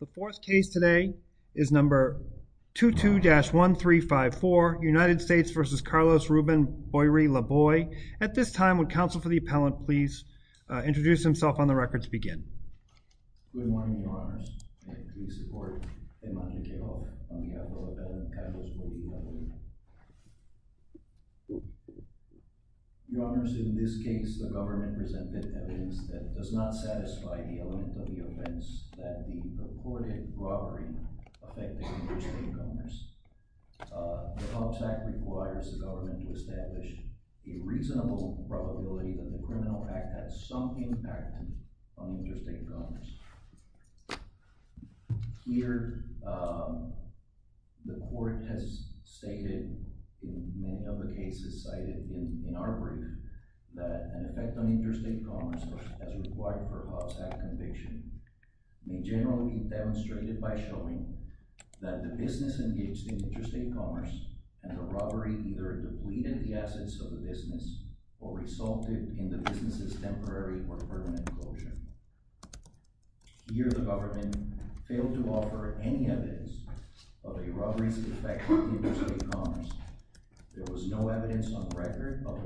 The fourth case today is number 22-1354 United States v. Carlos Ruben Boyrie-Laboy. At this time would counsel for the appellant please introduce himself on evidence that does not satisfy the element of the offense that the reported robbery affected interstate commerce. The Pobst Act requires the government to establish a reasonable probability that the criminal act had some impact on interstate commerce. Here the court has stated in many of the cases cited in our brief that an effect on interstate commerce as required for a Pobst Act conviction may generally be demonstrated by showing that the business engaged in interstate commerce and the robbery either depleted the assets of the business or resulted in the business's temporary or permanent closure. Here the government failed to offer any evidence of a robbery's effect on interstate commerce. There was no evidence on record of the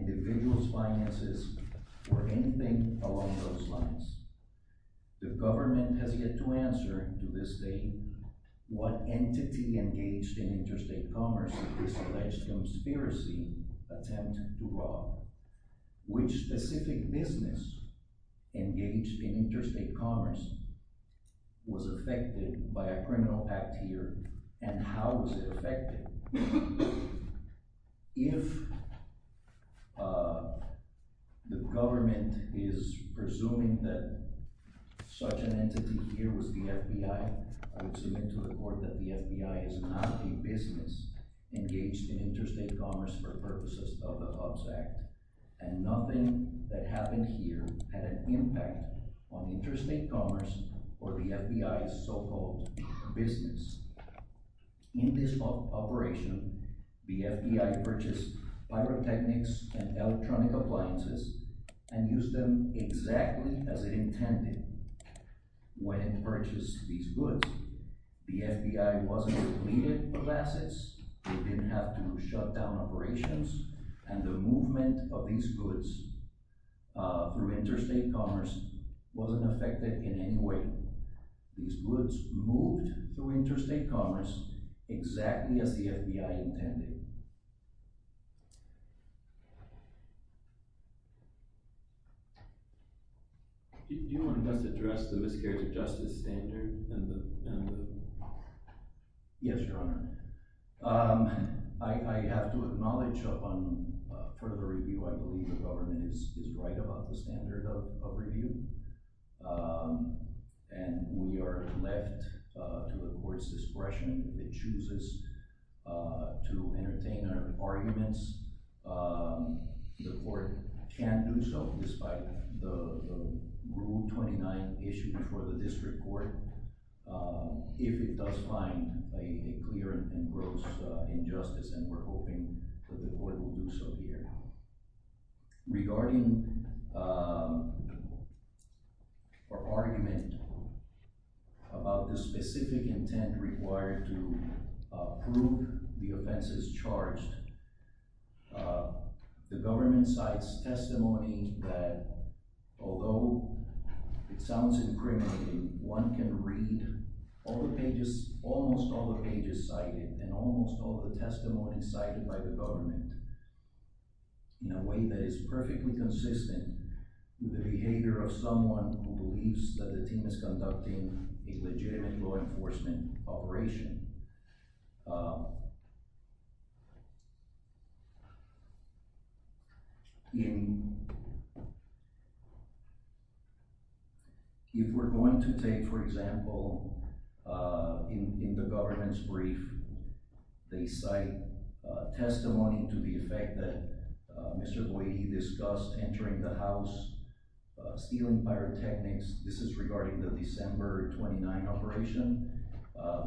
individual's finances or anything along those lines. The government has yet to answer to this day what entity engaged in interstate commerce in this alleged conspiracy attempt to rob. Which specific business engaged in interstate commerce was affected by a criminal act here and how was it affected? If the government is presuming that such an entity here was the FBI, I would submit to the court that the FBI is not a business engaged in interstate commerce for purposes of the Pobst Act. And nothing that happened here had an impact on interstate commerce or the FBI's so-called business. In this operation, the FBI purchased pyrotechnics and electronic appliances and used them exactly as it intended when it purchased these goods. The FBI wasn't depleted of assets. It didn't have to shut down operations. And the movement of these goods through interstate commerce wasn't affected in any way. These goods moved through interstate commerce exactly as the FBI intended. Do you want to address the miscarriage of justice standard? Yes, Your Honor. I have to acknowledge upon further review I believe the government is right about the standard of review. And we are left to the court's discretion. It chooses to entertain our arguments. The court can't do so despite the Rule 29 issued before the district court if it does find a clear and gross injustice. And we're hoping that the court will do so here. Regarding our argument about the specific intent required to prove the offenses charged, the government cites testimony that although it sounds incriminating, one can read almost all the pages cited and almost all the testimonies cited by the government. In a way that is perfectly consistent with the behavior of someone who believes that the team is conducting a legitimate law enforcement operation. If we're going to take, for example, in the government's brief, they cite testimony to the effect that Mr. Boehe discussed entering the house, stealing pyrotechnics. This is regarding the December 29 operation.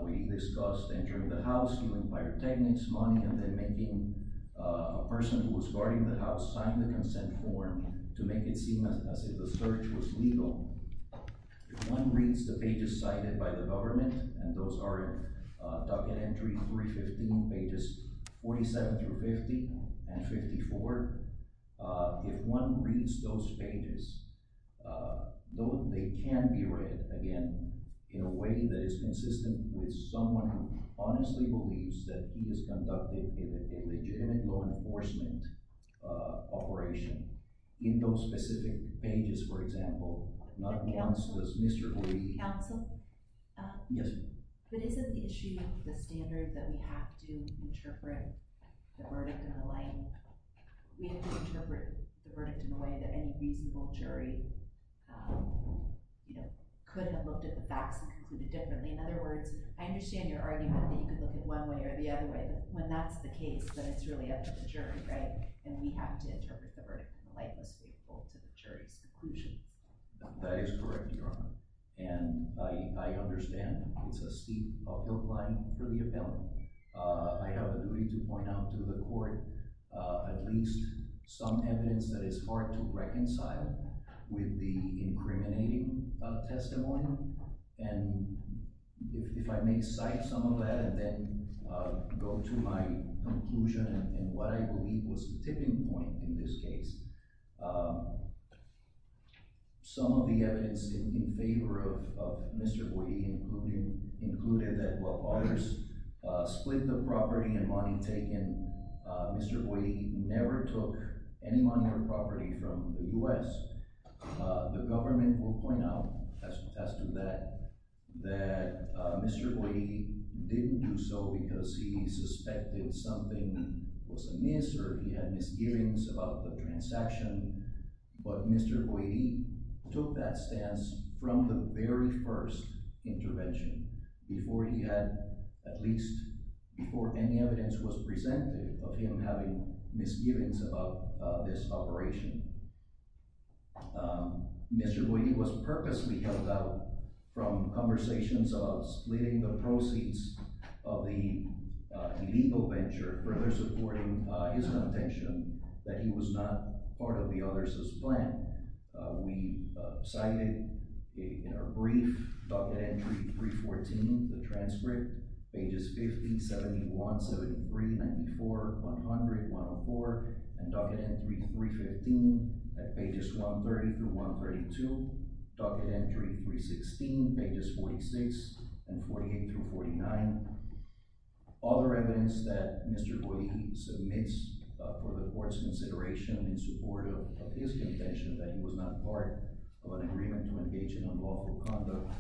We discussed entering the house, stealing pyrotechnics, money, and then making a person who was guarding the house sign the consent form to make it seem as if the search was legal. If one reads the pages cited by the government, and those are docket entries 315, pages 47 through 50, and 54, if one reads those pages, those can be read, again, in a way that is consistent with someone who honestly believes that he has conducted a legitimate law enforcement operation in those specific pages, for example. Mr. Lee? Yes. But isn't the issue of the standard that we have to interpret the verdict in a way that any reasonable jury could have looked at the facts and concluded differently? In other words, I understand your argument that you could look at it one way or the other way, but when that's the case, then it's really up to the jury, right? And we have to interpret the verdict in the light that's faithful to the jury's conclusion. That is correct, Your Honor. And I understand it's a steep uphill climb for the appellant. I have the degree to point out to the court at least some evidence that is hard to reconcile with the incriminating testimony. And if I may cite some of that and then go to my conclusion and what I believe was the tipping point in this case, some of the evidence in favor of Mr. Boyi included that while others split the property and money taken, Mr. Boyi never took any money or property from the U.S. The government will point out, as to that, that Mr. Boyi didn't do so because he suspected something was amiss or he had misgivings about the transaction. But Mr. Boyi took that stance from the very first intervention before any evidence was presented of him having misgivings about this operation. Mr. Boyi was purposely held out from conversations about splitting the proceeds of the illegal venture, further supporting his contention that he was not part of the others' plan. We cited in our brief Docket Entry 314, the transcript, pages 50, 71, 73, 94, 100, 104, and Docket Entry 315 at pages 130-132, Docket Entry 316 pages 46 and 48-49. Other evidence that Mr. Boyi submits for the court's consideration in support of his contention that he was not part of an agreement to engage in unlawful conduct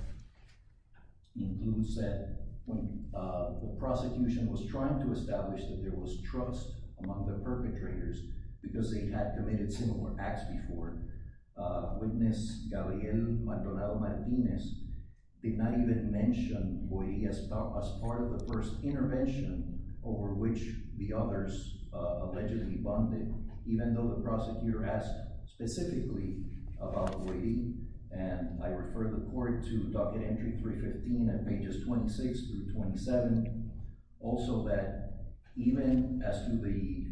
includes that when the prosecution was trying to establish that there was trust among the perpetrators because they had committed similar acts before, witness Gabriel Maldonado-Martinez did not even mention Boyi as part of the first intervention over which the others allegedly bonded, even though the prosecutor asked specifically about Boyi. I refer the court to Docket Entry 315 at pages 26-27, also that even as to the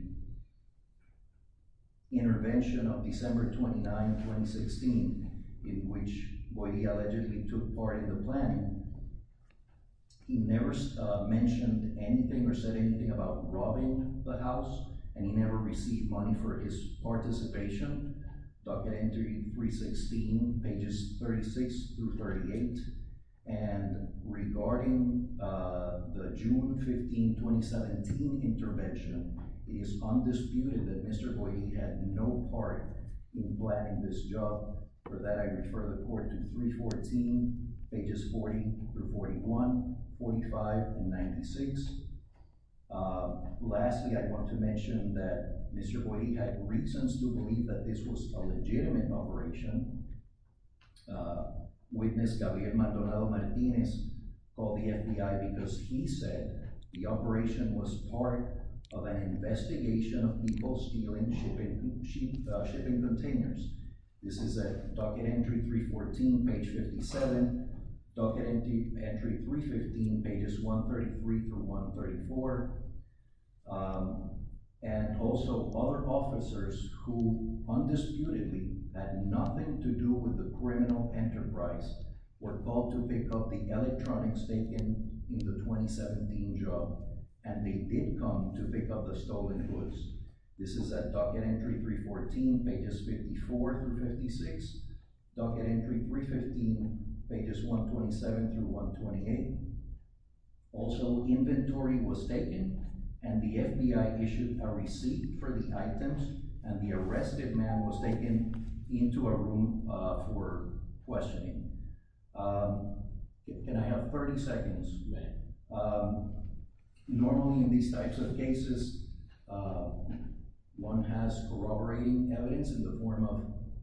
intervention of December 29, 2016, in which Boyi allegedly took part in the planning, he never mentioned anything or said anything about robbing the house, and he never received money for his participation. Docket Entry 316, pages 36-38, and regarding the June 15, 2017 intervention, it is undisputed that Mr. Boyi had no part in planning this job. For that, I refer the court to 314, pages 40-41, 45, and 96. Lastly, I want to mention that Mr. Boyi had reasons to believe that this was a legitimate operation. Witness Gabriel Maldonado-Martinez called the FBI because he said the operation was part of an investigation of people stealing shipping containers. This is at Docket Entry 314, page 57, Docket Entry 315, pages 133-134, and also other officers who undisputedly had nothing to do with the criminal enterprise were called to pick up the electronics taken in the 2017 job, and they did come to pick up the stolen goods. This is at Docket Entry 314, pages 54-56, Docket Entry 315, pages 127-128. Also, inventory was taken, and the FBI issued a receipt for the items, and the arrested man was taken into a room for questioning. Can I have 30 seconds? Normally, in these types of cases, one has corroborating evidence in the form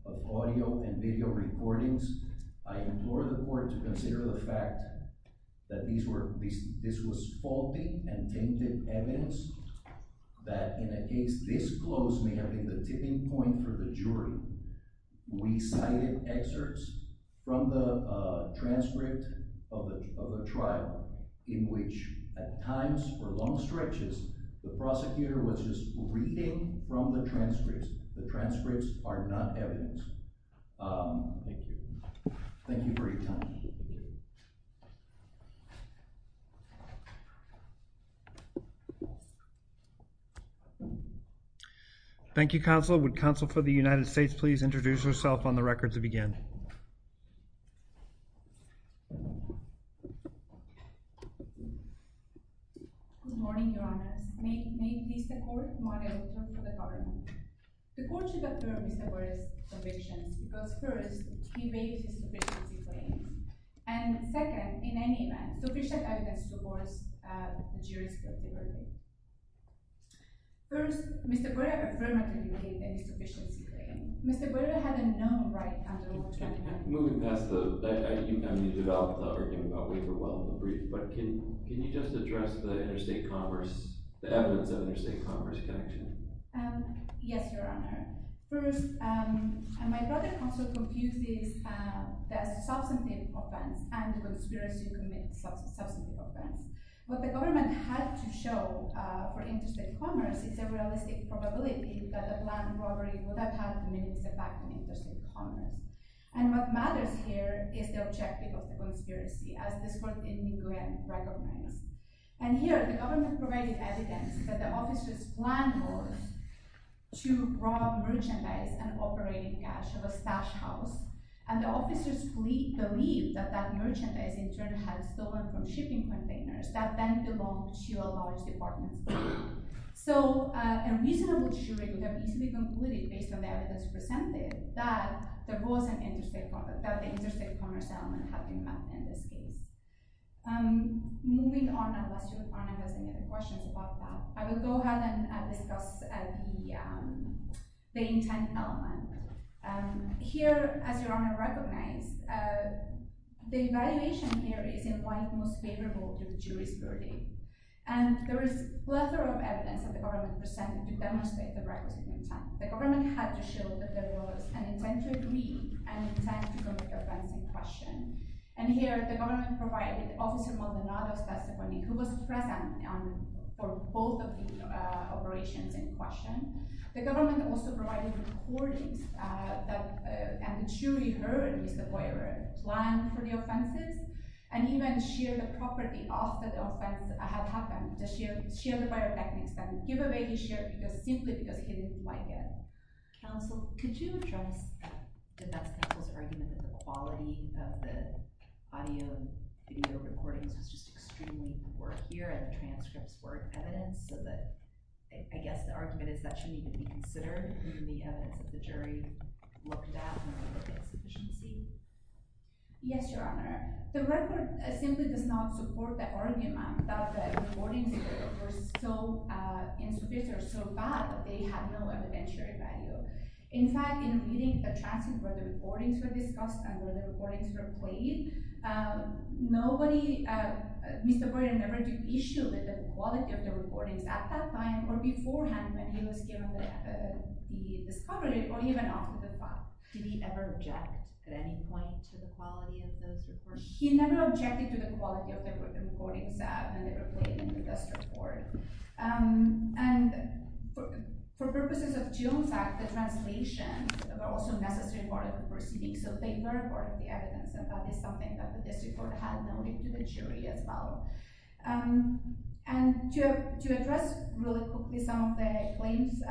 of audio and video recordings. I implore the court to consider the fact that this was faulty and tainted evidence, that in a case this close may have been the tipping point for the jury. We cited excerpts from the transcript of the trial in which, at times for long stretches, the prosecutor was just reading from the transcripts. The transcripts are not evidence. Thank you. Thank you for your time. Thank you. Thank you, Counsel. Would Counsel for the United States please introduce herself on the record to begin? Good morning, Your Honors. May it please the Court, I'm Mariela Torre for the Parliament. The Court should affirm Mr. Guerrero's convictions because, first, he made his sufficiency claims, and, second, in any event, sufficient evidence supports the jury's guilty verdict. First, Mr. Guerrero affirmed that he made a sufficiency claim. Mr. Guerrero had a known right under oath to him. Moving past that, I mean, you developed the argument about Waverwell in the brief, but can you just address the evidence of interstate commerce connection? Yes, Your Honor. First, my brother also confused this as a substantive offense and a conspiracy to commit a substantive offense. What the government had to show for interstate commerce is a realistic probability that a planned robbery would have had the minimum effect on interstate commerce. And what matters here is the objective of the conspiracy, as this Court in New Glenn recognized. And here, the government provided evidence that the officers planned to rob merchandise and operating cash of a stash house, and the officers believed that that merchandise, in turn, had stolen from shipping containers that then belonged to a large department store. So, a reasonable jury would have easily concluded, based on the evidence presented, that the interstate commerce element had been met in this case. Moving on, unless Your Honor has any other questions about that, I will go ahead and discuss the intent element. Here, as Your Honor recognized, the evaluation here is in what is most favorable to the jury's verdict. And there is a plethora of evidence that the government presented to demonstrate the requisite intent. The government had to show that there was an intent to agree and an intent to commit the offense in question. And here, the government provided Officer Maldonado's testimony, who was present for both of the operations in question. The government also provided recordings, and the jury heard Mr. Boyer's plan for the offenses, and even shared the property after the offense had happened. Just shared the buyer's techniques, and give away his share simply because he didn't like it. Counsel, could you address the defense counsel's argument that the quality of the audio and video recordings was just extremely poor here, and the transcripts weren't evident? So I guess the argument is that shouldn't even be considered in the evidence that the jury looked at in the case efficiency? Yes, Your Honor. The record simply does not support the argument that the recordings were so insufficient or so bad that they had no evidentiary value. In fact, in reading the transcript where the recordings were discussed and where the recordings were played, Mr. Boyer never issued the quality of the recordings at that time or beforehand when he was given the discovery, or even after the fact. Did he ever object at any point to the quality of those recordings? He never objected to the quality of the recordings when they were played in this report. And for purposes of June's act, the translations were also a necessary part of the proceedings. So they were part of the evidence, and that is something that the district court had noted to the jury as well. And to address really quickly some of the claims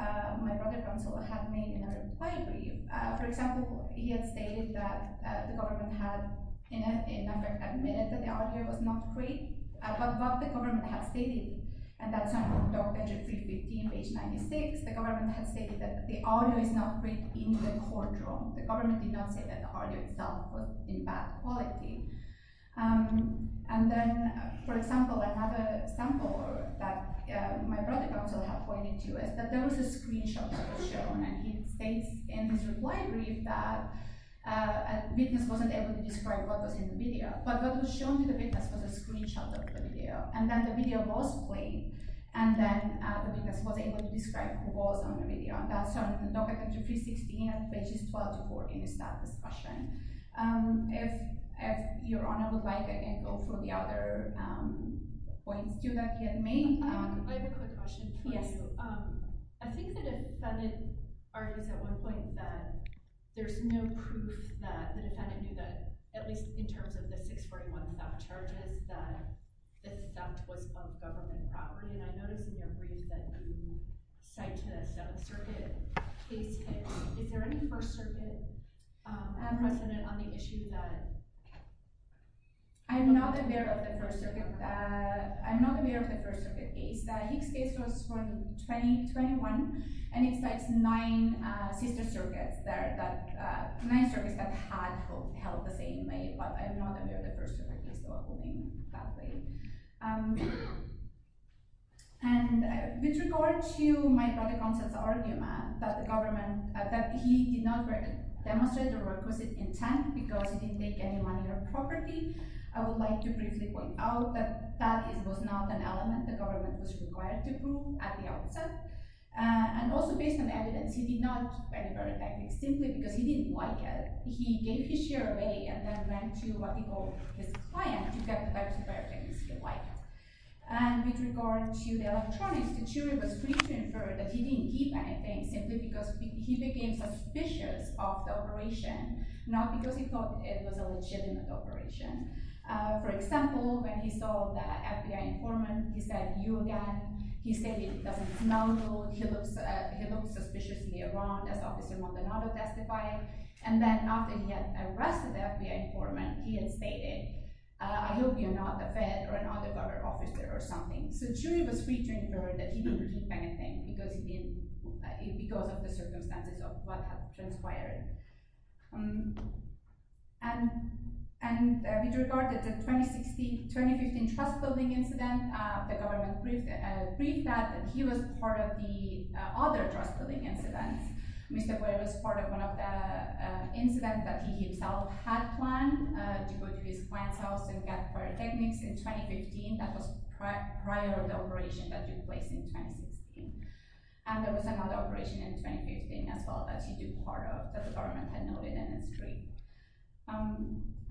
my brother counsel had made in a reply brief, for example, he had stated that the government had admitted that the audio was not great, but what the government had stated, and that's on page 96, the government had stated that the audio is not great in the courtroom. The government did not say that the audio itself was in bad quality. And then, for example, another example that my brother counsel had pointed to is that there was a screenshot that was shown, and he states in his reply brief that a witness wasn't able to describe what was in the video, but what was shown to the witness was a screenshot of the video. And then the video was played, and then the witness wasn't able to describe who was on the video. And that's on document 316, pages 12 to 14 is that discussion. If Your Honor would like, I can go through the other points too that he had made. I have a quick question for you. Yes. I think the defendant argues at one point that there's no proof that the defendant knew that, at least in terms of the 641 theft charges, that the theft was of government property. And I noticed in your brief that you cite a Seventh Circuit case case. Is there any First Circuit ad resident on the issue that— I'm not aware of the First Circuit case. The Hicks case was from 2021, and it cites nine Sister Circuits there, nine circuits that had held the same name, but I'm not aware of the First Circuit case holding that name. And with regard to my brother counsel's argument that he did not demonstrate the requisite intent because he didn't take any money or property, I would like to briefly point out that that was not an element the government was required to prove at the outset. And also based on evidence, he did not keep any biotechnics simply because he didn't like it. He gave his share away and then went to what we call his client to get the biotechnics he liked. And with regard to the electronics, the jury was free to infer that he didn't keep anything simply because he became suspicious of the operation, not because he thought it was a legitimate operation. For example, when he saw the FBI informant, he said, you again. He said he doesn't smell good. He looked suspiciously around as Officer Montanado testified. And then after he had arrested the FBI informant, he had stated, I hope you're not the Fed or an undercover officer or something. So the jury was free to infer that he didn't keep anything because of the circumstances of what had transpired. And with regard to the 2016-2015 trust building incident, the government briefed that he was part of the other trust building incidents. Mr. Boyer was part of one of the incidents that he himself had planned to go to his client's house and get biotechnics in 2015. That was prior to the operation that took place in 2016. And there was another operation in 2015 as well that he took part of that the government had noted in its brief.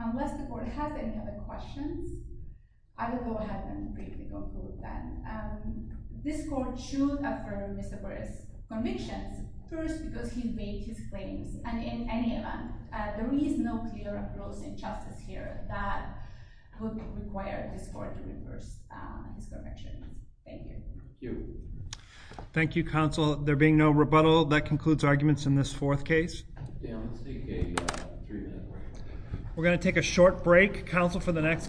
Unless the court has any other questions, I will go ahead and briefly conclude then. This court should affirm Mr. Boyer's convictions first because he made his claims. And in any event, there is no clear approach in justice here that would require this court to reverse his convictions. Thank you. Thank you, counsel. There being no rebuttal, that concludes arguments in this fourth case. We're going to take a short break. Counsel for the next case.